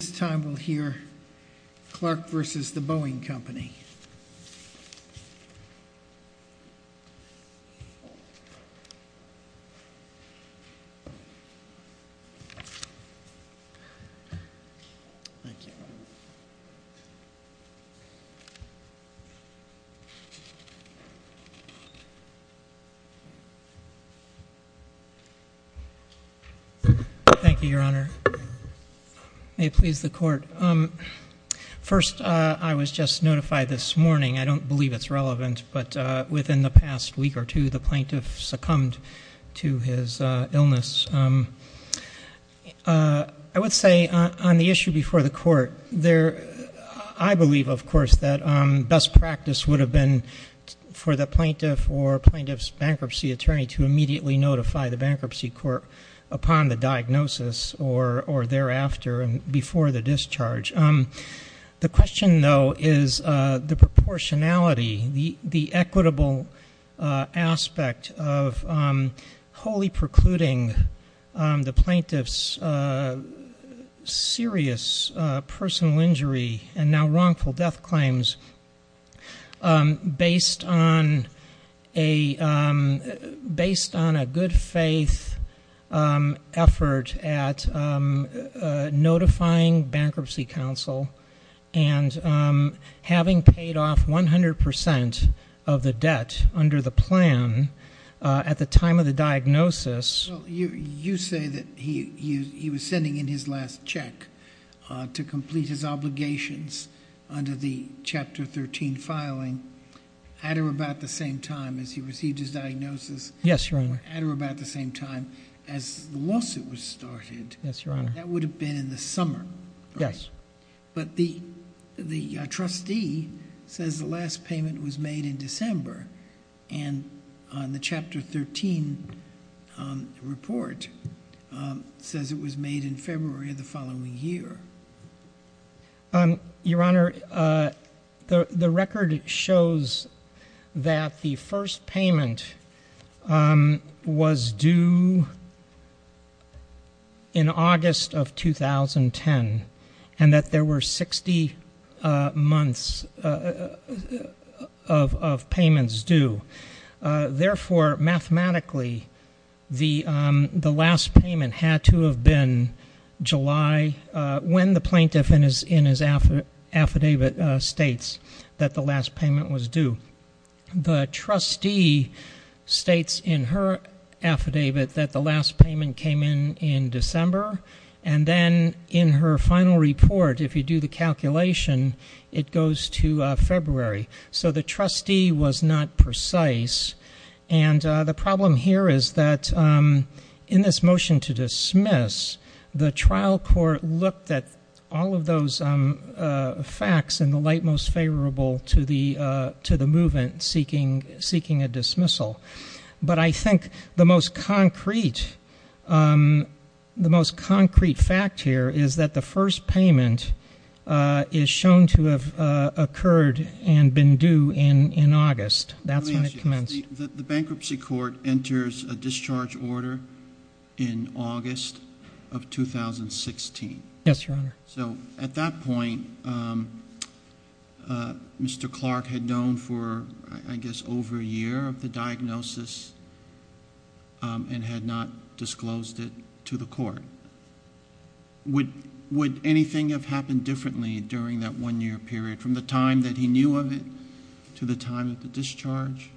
This time we'll hear Clark v. The Boeing Company. Thank you, Your Honor. May it please the Court. First, I was just notified this morning. I don't believe it's relevant, but within the past week or two, the plaintiff succumbed to his illness. I would say on the issue before the Court, I believe, of course, that best practice would have been for the plaintiff or plaintiff's bankruptcy attorney to immediately notify the bankruptcy court upon the diagnosis or thereafter and before the discharge. The question, though, is the proportionality, the equitable aspect of wholly precluding the plaintiff's serious personal injury and now wrongful death claims based on a good faith effort at notifying bankruptcy counsel and having paid off 100% of the debt under the plan at the time of the diagnosis. Well, you say that he was sending in his last check to complete his obligations under the Chapter 13 filing at or about the same time as he received his diagnosis. Yes, Your Honor. At or about the same time as the lawsuit was started. Yes, Your Honor. That would have been in the summer. Yes. But the trustee says the last payment was made in December and the Chapter 13 report says it was made in February of the following year. Your Honor, the record shows that the first payment was due in August of 2010 and that there were 60 months of payments due. Therefore, mathematically, the last payment had to have been July when the plaintiff in his affidavit states that the last payment was due. The trustee states in her affidavit that the last payment came in in December and then in her final report, if you do the calculation, it goes to February. So the trustee was not precise. And the problem here is that in this motion to dismiss, the trial court looked at all of those facts in the light most favorable to the movement seeking a dismissal. But I think the most concrete fact here is that the first payment is shown to have occurred and been due in August. That's when it commenced. Let me ask you this. The bankruptcy court enters a discharge order in August of 2016. Yes, Your Honor. So at that point, Mr. Clark had known for, I guess, over a year of the diagnosis and had not disclosed it to the court. Would anything have happened differently during that one-year period from the time that he knew of it to the time of the discharge?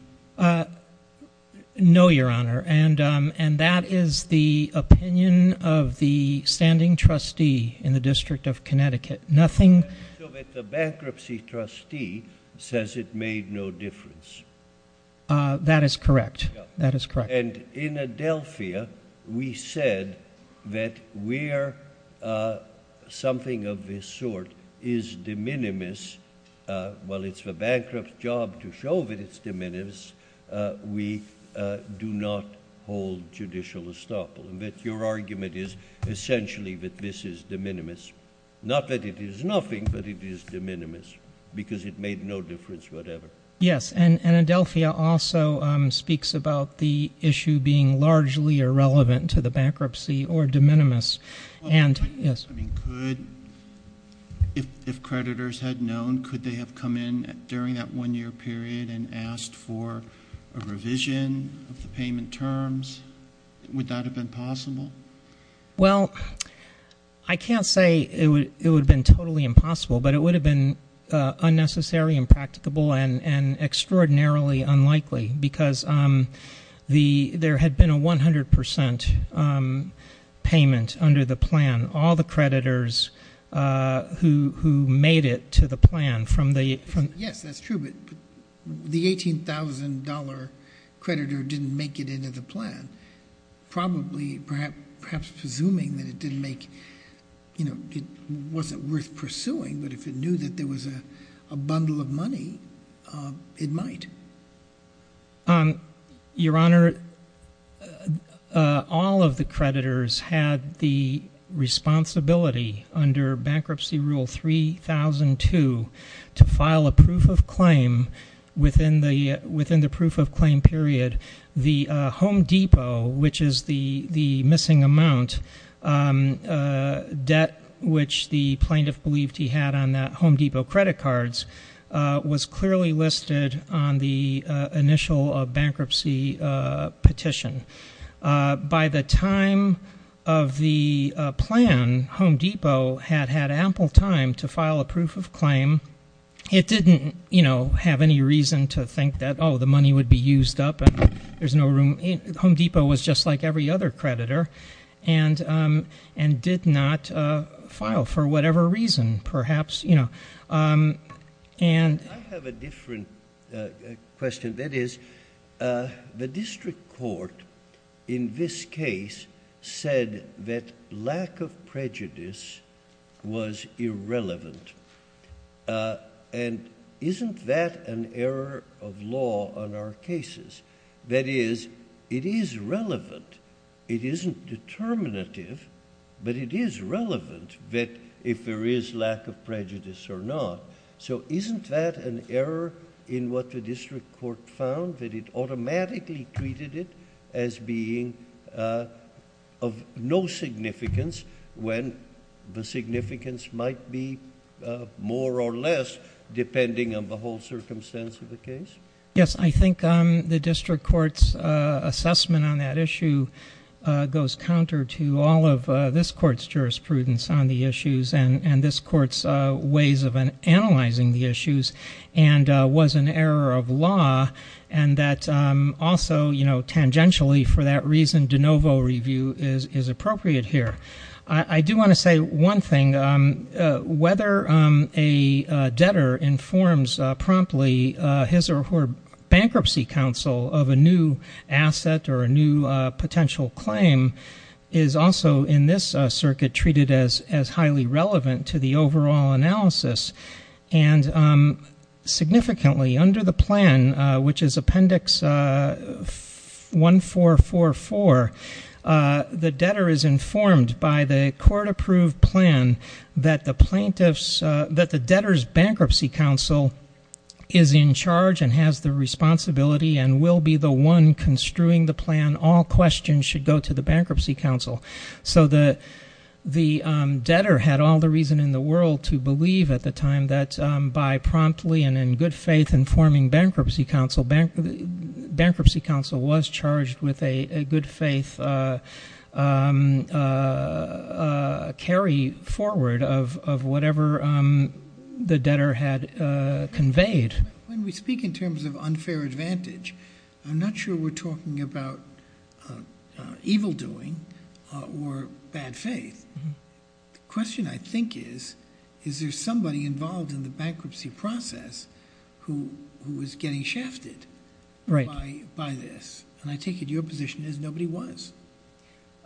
No, Your Honor. And that is the opinion of the standing trustee in the District of Connecticut. Nothing? The bankruptcy trustee says it made no difference. That is correct. That is correct. And in Adelphia, we said that where something of this sort is de minimis, while it's the bankrupt's job to show that it's de minimis, we do not hold judicial estoppel. And that your argument is essentially that this is de minimis. Not that it is nothing, but it is de minimis because it made no difference whatever. Yes. And Adelphia also speaks about the issue being largely irrelevant to the bankruptcy or de minimis. Could, if creditors had known, could they have come in during that one-year period and asked for a revision of the payment terms? Would that have been possible? Well, I can't say it would have been totally impossible, but it would have been unnecessary, impracticable, and extraordinarily unlikely because there had been a 100% payment under the plan. All the creditors who made it to the plan from the ---- Yes, that's true, but the $18,000 creditor didn't make it into the plan, probably perhaps presuming that it didn't make, you know, it wasn't worth pursuing, but if it knew that there was a bundle of money, it might. Your Honor, all of the creditors had the responsibility under Bankruptcy Rule 3002 to file a proof of claim within the proof of claim period. The Home Depot, which is the missing amount debt, which the plaintiff believed he had on that Home Depot credit cards, was clearly listed on the initial bankruptcy petition. By the time of the plan, Home Depot had had ample time to file a proof of claim. It didn't, you know, have any reason to think that, oh, the money would be used up and there's no room... Home Depot was just like every other creditor and did not file for whatever reason, perhaps, you know. I have a different question. That is, the district court in this case said that lack of prejudice was irrelevant. Isn't that an error of law on our cases? That is, it is relevant. It isn't determinative, but it is relevant that if there is lack of prejudice or not. So isn't that an error in what the district court found, that it automatically treated it as being of no significance when the significance might be more or less depending on the whole circumstance of the case? Yes. I think the district court's assessment on that issue goes counter to all of this court's jurisprudence on the issues and this court's ways of analyzing the issues and was an error of law and that also, you know, tangentially for that reason, de novo review is appropriate here. I do want to say one thing. Whether a debtor informs promptly his or her bankruptcy counsel of a new asset or a new potential claim is also in this circuit treated as highly relevant to the overall analysis and significantly under the plan, which is appendix 1444, the debtor is informed by the court-approved plan that the debtor's bankruptcy counsel is in charge and has the responsibility and will be the one construing the plan. All questions should go to the bankruptcy counsel. So the debtor had all the reason in the world to believe at the time that by promptly and in good faith informing bankruptcy counsel, bankruptcy counsel was charged with a good faith carry forward of whatever the debtor had conveyed. When we speak in terms of unfair advantage, I'm not sure we're talking about evildoing or bad faith. The question I think is, is there somebody involved in the bankruptcy process who was getting shafted by this? And I take it your position is nobody was.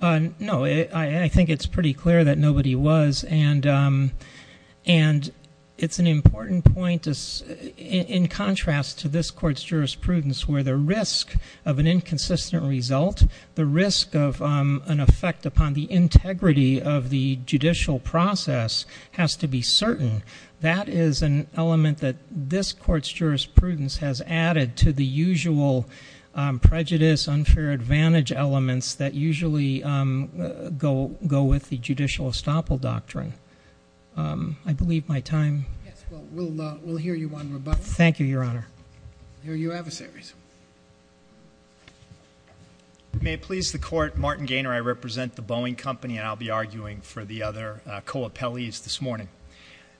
No, I think it's pretty clear that nobody was. And it's an important point in contrast to this court's jurisprudence where the risk of an inconsistent result, the risk of an effect upon the integrity of the judicial process has to be certain. That is an element that this court's jurisprudence has added to the usual prejudice, unfair advantage elements that usually go with the judicial estoppel doctrine. I believe my time. Yes, well, we'll hear you on rebuttal. Thank you, Your Honor. Here are your adversaries. May it please the Court, Martin Gaynor, I represent the Boeing Company, and I'll be arguing for the other co-appellees this morning.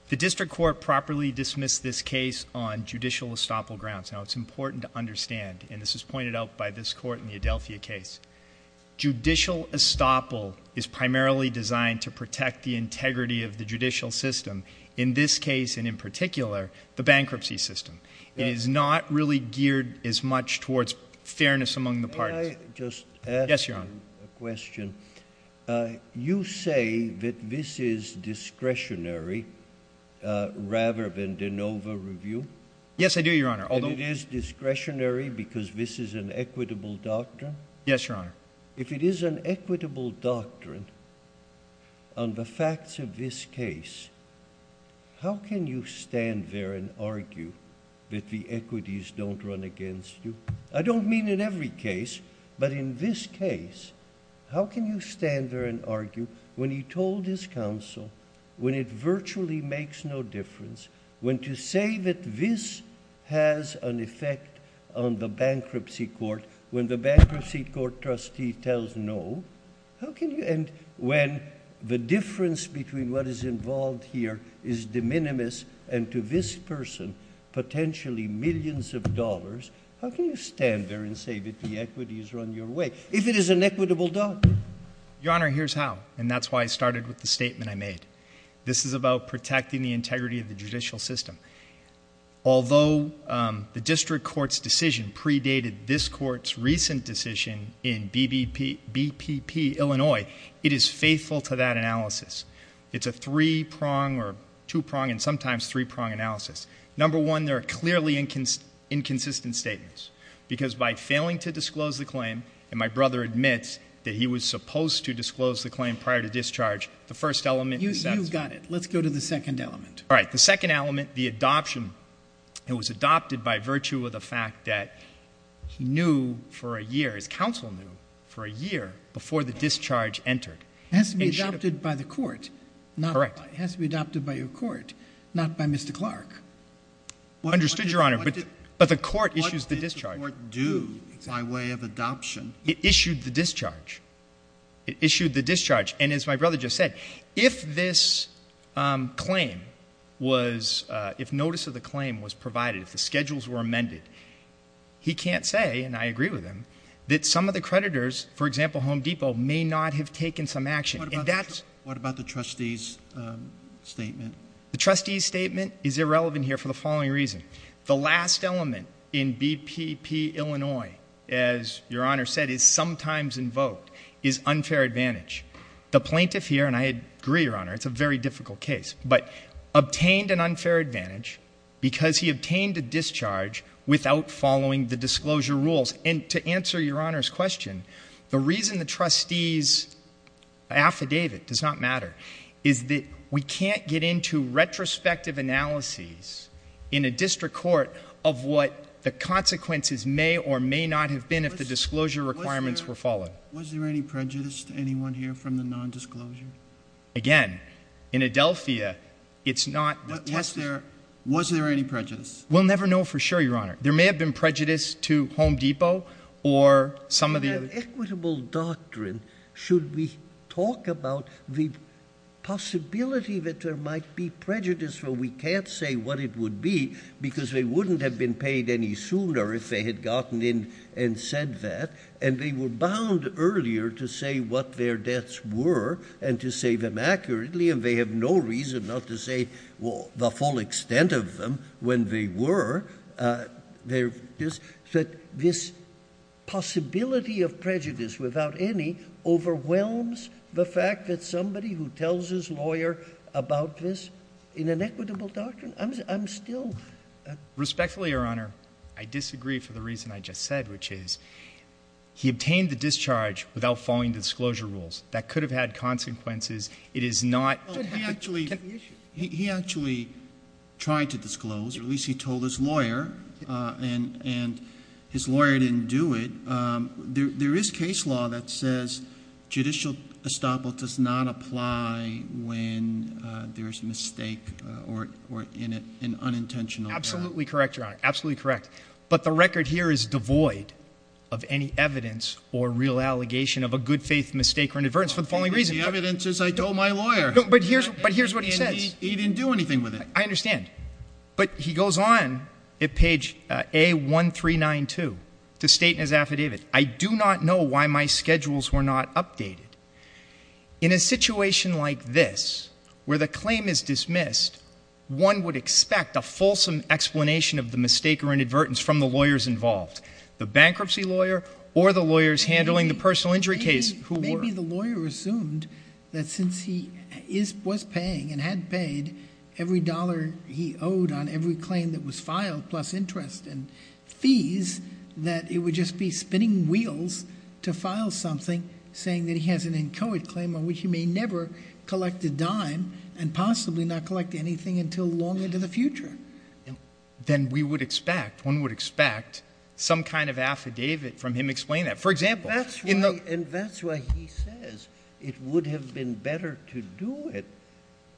The district court properly dismissed this case on judicial estoppel grounds. Now, it's important to understand, and this was pointed out by this court in the Adelphia case, judicial estoppel is primarily designed to protect the integrity of the judicial system, in this case and in particular, the bankruptcy system. It is not really geared as much towards fairness among the parties. May I just ask you a question? Yes, Your Honor. You say that this is discretionary rather than an over-review? Yes, I do, Your Honor, although... And it is discretionary because this is an equitable doctrine? Yes, Your Honor. If it is an equitable doctrine on the facts of this case, how can you stand there and argue that the equities don't run against you? I don't mean in every case, but in this case, how can you stand there and argue when he told his counsel, when it virtually makes no difference, when to say that this has an effect on the bankruptcy court, when the bankruptcy court trustee tells no, and when the difference between what is involved here is de minimis, and to this person, potentially millions of dollars, how can you stand there and say that the equities are on your way, if it is an equitable doctrine? Your Honor, here's how. And that's why I started with the statement I made. This is about protecting the integrity of the judicial system. Although the district court's decision predated this court's recent decision in BPP, Illinois, it is faithful to that analysis. It's a three-prong or two-prong and sometimes three-prong analysis. Number one, there are clearly inconsistent statements, because by failing to disclose the claim, and my brother admits that he was supposed to disclose the claim prior to discharge, the first element is that. You've got it. Let's go to the second element. All right. The second element, the adoption, it was adopted by virtue of the fact that he knew for a year, his counsel knew for a year before the discharge entered. It has to be adopted by the court. Correct. It has to be adopted by your court, not by Mr. Clark. Understood, Your Honor. But the court issues the discharge. What did the court do by way of adoption? It issued the discharge. It issued the discharge. And as my brother just said, if this claim was ‑‑ if notice of the claim was provided, if the schedules were amended, he can't say, and I agree with him, that some of the creditors, for example, Home Depot, may not have taken some action. What about the trustee's statement? The trustee's statement is irrelevant here for the following reason. The last element in BPP Illinois, as Your Honor said, is sometimes invoked, is unfair advantage. The plaintiff here, and I agree, Your Honor, it's a very difficult case, but obtained an unfair advantage because he obtained a discharge without following the disclosure rules. And to answer Your Honor's question, the reason the trustee's affidavit does not matter is that we can't get into retrospective analyses in a district court of what the consequences may or may not have been if the disclosure requirements were followed. Was there any prejudice to anyone here from the nondisclosure? Again, in Adelphia, it's not ‑‑ Was there any prejudice? We'll never know for sure, Your Honor. Should we have equitable doctrine? Should we talk about the possibility that there might be prejudice where we can't say what it would be because they wouldn't have been paid any sooner if they had gotten in and said that, and they were bound earlier to say what their debts were and to say them accurately, and they have no reason not to say the full extent of them when they were. So this possibility of prejudice without any overwhelms the fact that somebody who tells his lawyer about this in an equitable doctrine? I'm still ‑‑ Respectfully, Your Honor, I disagree for the reason I just said, which is he obtained the discharge without following the disclosure rules. That could have had consequences. It is not ‑‑ He actually tried to disclose, or at least he told his lawyer, and his lawyer didn't do it. There is case law that says judicial estoppel does not apply when there is a mistake or an unintentional ‑‑ Absolutely correct, Your Honor. Absolutely correct. But the record here is devoid of any evidence or real allegation of a good faith mistake or inadvertence for the following reason. The evidence is I told my lawyer. But here is what he says. And he didn't do anything with it. I understand. But he goes on at page A1392 to state in his affidavit, I do not know why my schedules were not updated. In a situation like this where the claim is dismissed, one would expect a fulsome explanation of the mistake or inadvertence from the lawyers involved, the bankruptcy lawyer or the lawyers handling the personal injury case who were. Maybe the lawyer assumed that since he was paying and had paid every dollar he owed on every claim that was filed plus interest and fees, that it would just be spinning wheels to file something saying that he has an inchoate claim on which he may never collect a dime and possibly not collect anything until long into the future. Then we would expect, one would expect, some kind of affidavit from him explaining that. For example. And that's why he says it would have been better to do it,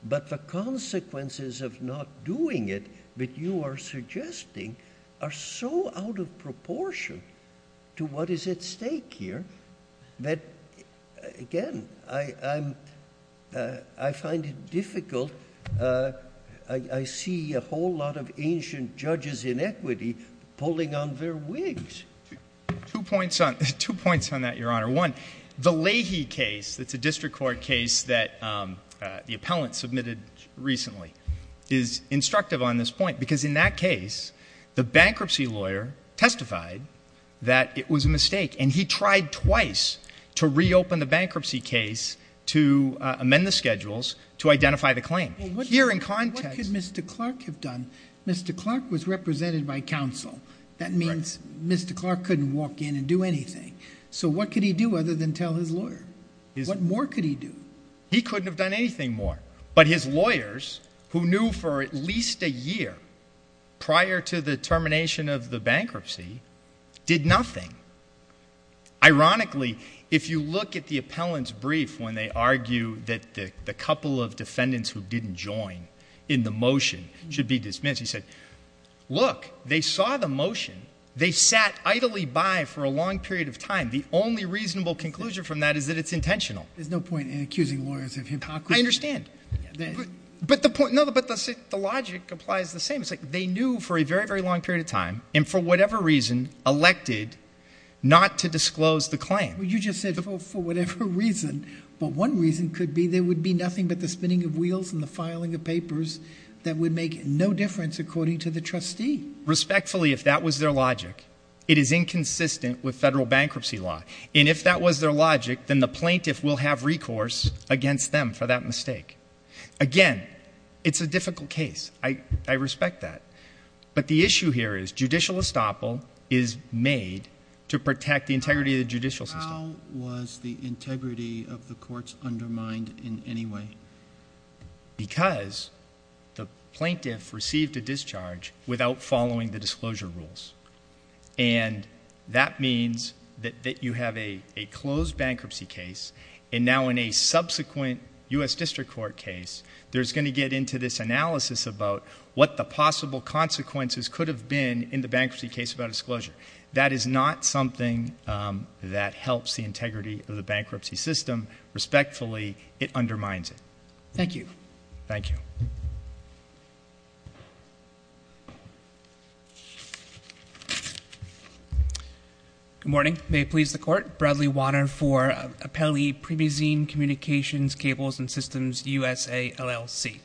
but the consequences of not doing it that you are suggesting are so out of proportion to what is at stake here that, again, I find it difficult. I see a whole lot of ancient judges in equity pulling on their wigs. Two points on that, Your Honor. One, the Leahy case that's a district court case that the appellant submitted recently is instructive on this point because in that case the bankruptcy lawyer testified that it was a mistake and he tried twice to reopen the bankruptcy case to amend the schedules to identify the claim. Here in context. What could Mr. Clark have done? Mr. Clark was represented by counsel. That means Mr. Clark couldn't walk in and do anything. So what could he do other than tell his lawyer? What more could he do? He couldn't have done anything more. But his lawyers, who knew for at least a year prior to the termination of the bankruptcy, did nothing. Ironically, if you look at the appellant's brief when they argue that the couple of defendants who didn't join in the motion should be dismissed, he said, look, they saw the motion. They sat idly by for a long period of time. The only reasonable conclusion from that is that it's intentional. There's no point in accusing lawyers of hypocrisy. I understand. But the logic applies the same. It's like they knew for a very, very long period of time and for whatever reason elected not to disclose the claim. You just said for whatever reason. But one reason could be there would be nothing but the spinning of wheels and the filing of papers that would make no difference, according to the trustee. Respectfully, if that was their logic, it is inconsistent with federal bankruptcy law. And if that was their logic, then the plaintiff will have recourse against them for that mistake. Again, it's a difficult case. I respect that. But the issue here is judicial estoppel is made to protect the integrity of the judicial system. How was the integrity of the courts undermined in any way? Because the plaintiff received a discharge without following the disclosure rules. And that means that you have a closed bankruptcy case, and now in a subsequent U.S. District Court case, there's going to get into this analysis about what the possible consequences could have been in the bankruptcy case about disclosure. That is not something that helps the integrity of the bankruptcy system. Respectfully, it undermines it. Thank you. Thank you. Good morning. May it please the Court. Bradley Wanner for Appellee Primazine Communications Cables and Systems, USA LLC.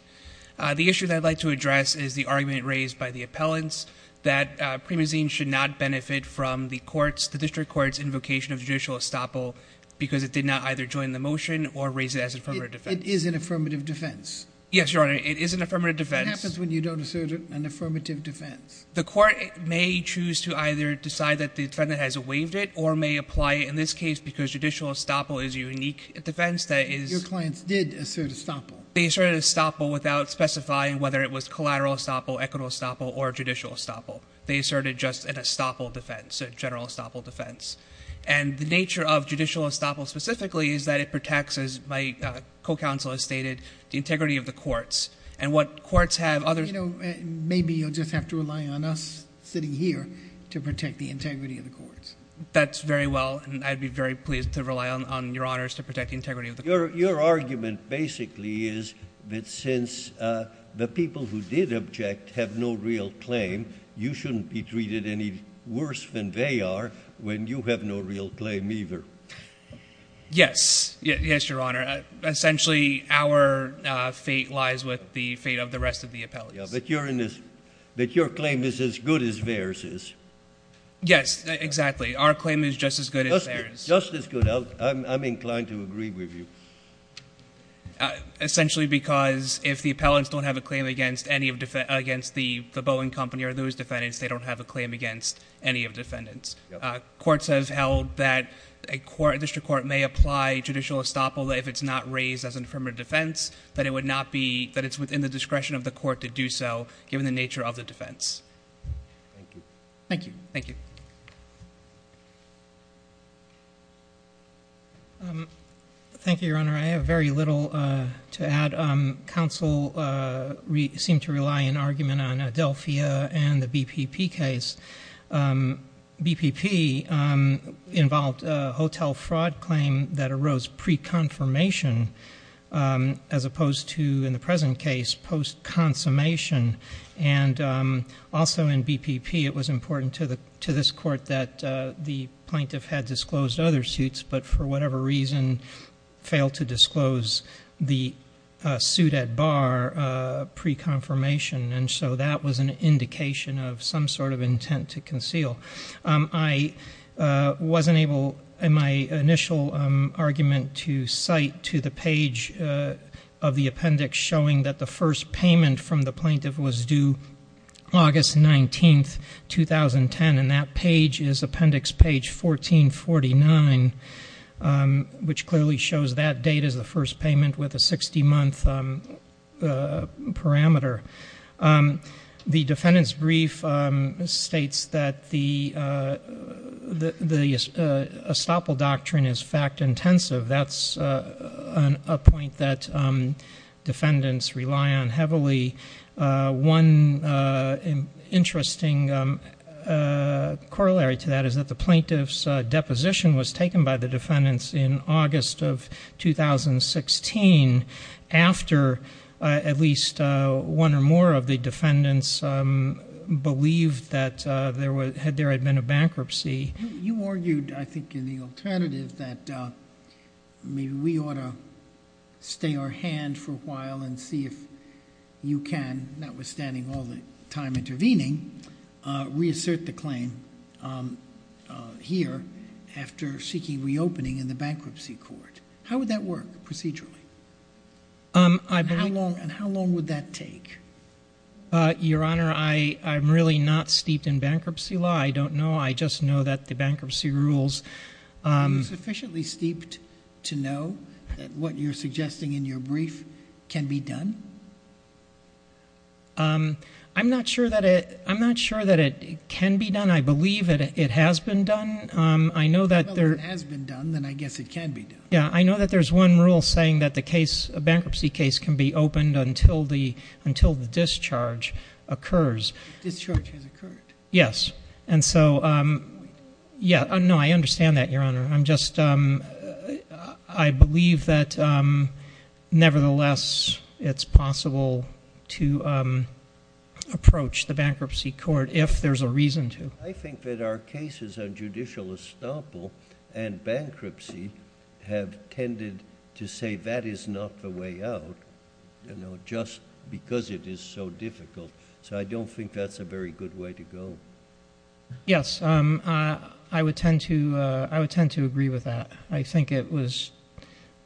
The issue that I'd like to address is the argument raised by the appellants that Primazine should not benefit from the courts, the district courts' invocation of judicial estoppel because it did not either join the motion or raise it as an affirmative defense. It is an affirmative defense. Yes, Your Honor. It is an affirmative defense. What happens when you don't assert an affirmative defense? The court may choose to either decide that the defendant has waived it or may apply it in this case because judicial estoppel is a unique defense that is— Your clients did assert estoppel. They asserted estoppel without specifying whether it was collateral estoppel, equitable estoppel, or judicial estoppel. They asserted just an estoppel defense, a general estoppel defense. And the nature of judicial estoppel specifically is that it protects, as my co-counsel has stated, the integrity of the courts. And what courts have— You know, maybe you'll just have to rely on us sitting here to protect the integrity of the courts. That's very well, and I'd be very pleased to rely on Your Honors to protect the integrity of the courts. Your argument basically is that since the people who did object have no real claim, you shouldn't be treated any worse than they are when you have no real claim either. Yes. Yes, Your Honor. Essentially, our fate lies with the fate of the rest of the appellees. Yeah, but you're in this—that your claim is as good as theirs is. Yes, exactly. Our claim is just as good as theirs. Just as good. I'm inclined to agree with you. Essentially because if the appellants don't have a claim against the Boeing company or those defendants, they don't have a claim against any of the defendants. Courts have held that a district court may apply judicial estoppel if it's not raised as an affirmative defense, that it's within the discretion of the court to do so given the nature of the defense. Thank you. Thank you. Thank you. Thank you, Your Honor. I have very little to add. Counsel seemed to rely in argument on Adelphia and the BPP case. BPP involved a hotel fraud claim that arose pre-confirmation as opposed to, in the present case, post-consummation. And also in BPP, it was important to this court that the plaintiff had disclosed other suits, but for whatever reason failed to disclose the suit at bar pre-confirmation. And so that was an indication of some sort of intent to conceal. I wasn't able in my initial argument to cite to the page of the appendix showing that the first payment from the plaintiff was due August 19th, 2010. And that page is appendix page 1449, which clearly shows that date as the first payment with a 60-month parameter. The defendant's brief states that the estoppel doctrine is fact-intensive. That's a point that defendants rely on heavily. One interesting corollary to that is that the plaintiff's deposition was taken by the defendants in August of 2016, after at least one or more of the defendants believed that there had been a bankruptcy. You argued, I think, in the alternative that maybe we ought to stay our hand for a while and see if you can, notwithstanding all the time intervening, reassert the claim here after seeking reopening in the bankruptcy court. How would that work procedurally? And how long would that take? Your Honor, I'm really not steeped in bankruptcy law. I don't know. I just know that the bankruptcy rules- Are you sufficiently steeped to know that what you're suggesting in your brief can be done? I'm not sure that it can be done. I believe that it has been done. Well, if it has been done, then I guess it can be done. I know that there's one rule saying that a bankruptcy case can be opened until the discharge occurs. The discharge has occurred. Yes. And so, yeah, no, I understand that, Your Honor. I'm just-I believe that, nevertheless, it's possible to approach the bankruptcy court if there's a reason to. I think that our cases on judicial estoppel and bankruptcy have tended to say that is not the way out, you know, just because it is so difficult. So I don't think that's a very good way to go. Yes, I would tend to agree with that. I think it was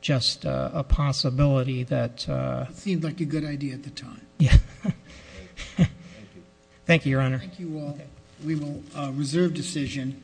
just a possibility that- It seemed like a good idea at the time. Yeah. Thank you, Your Honor. Thank you all. We will reserve decision.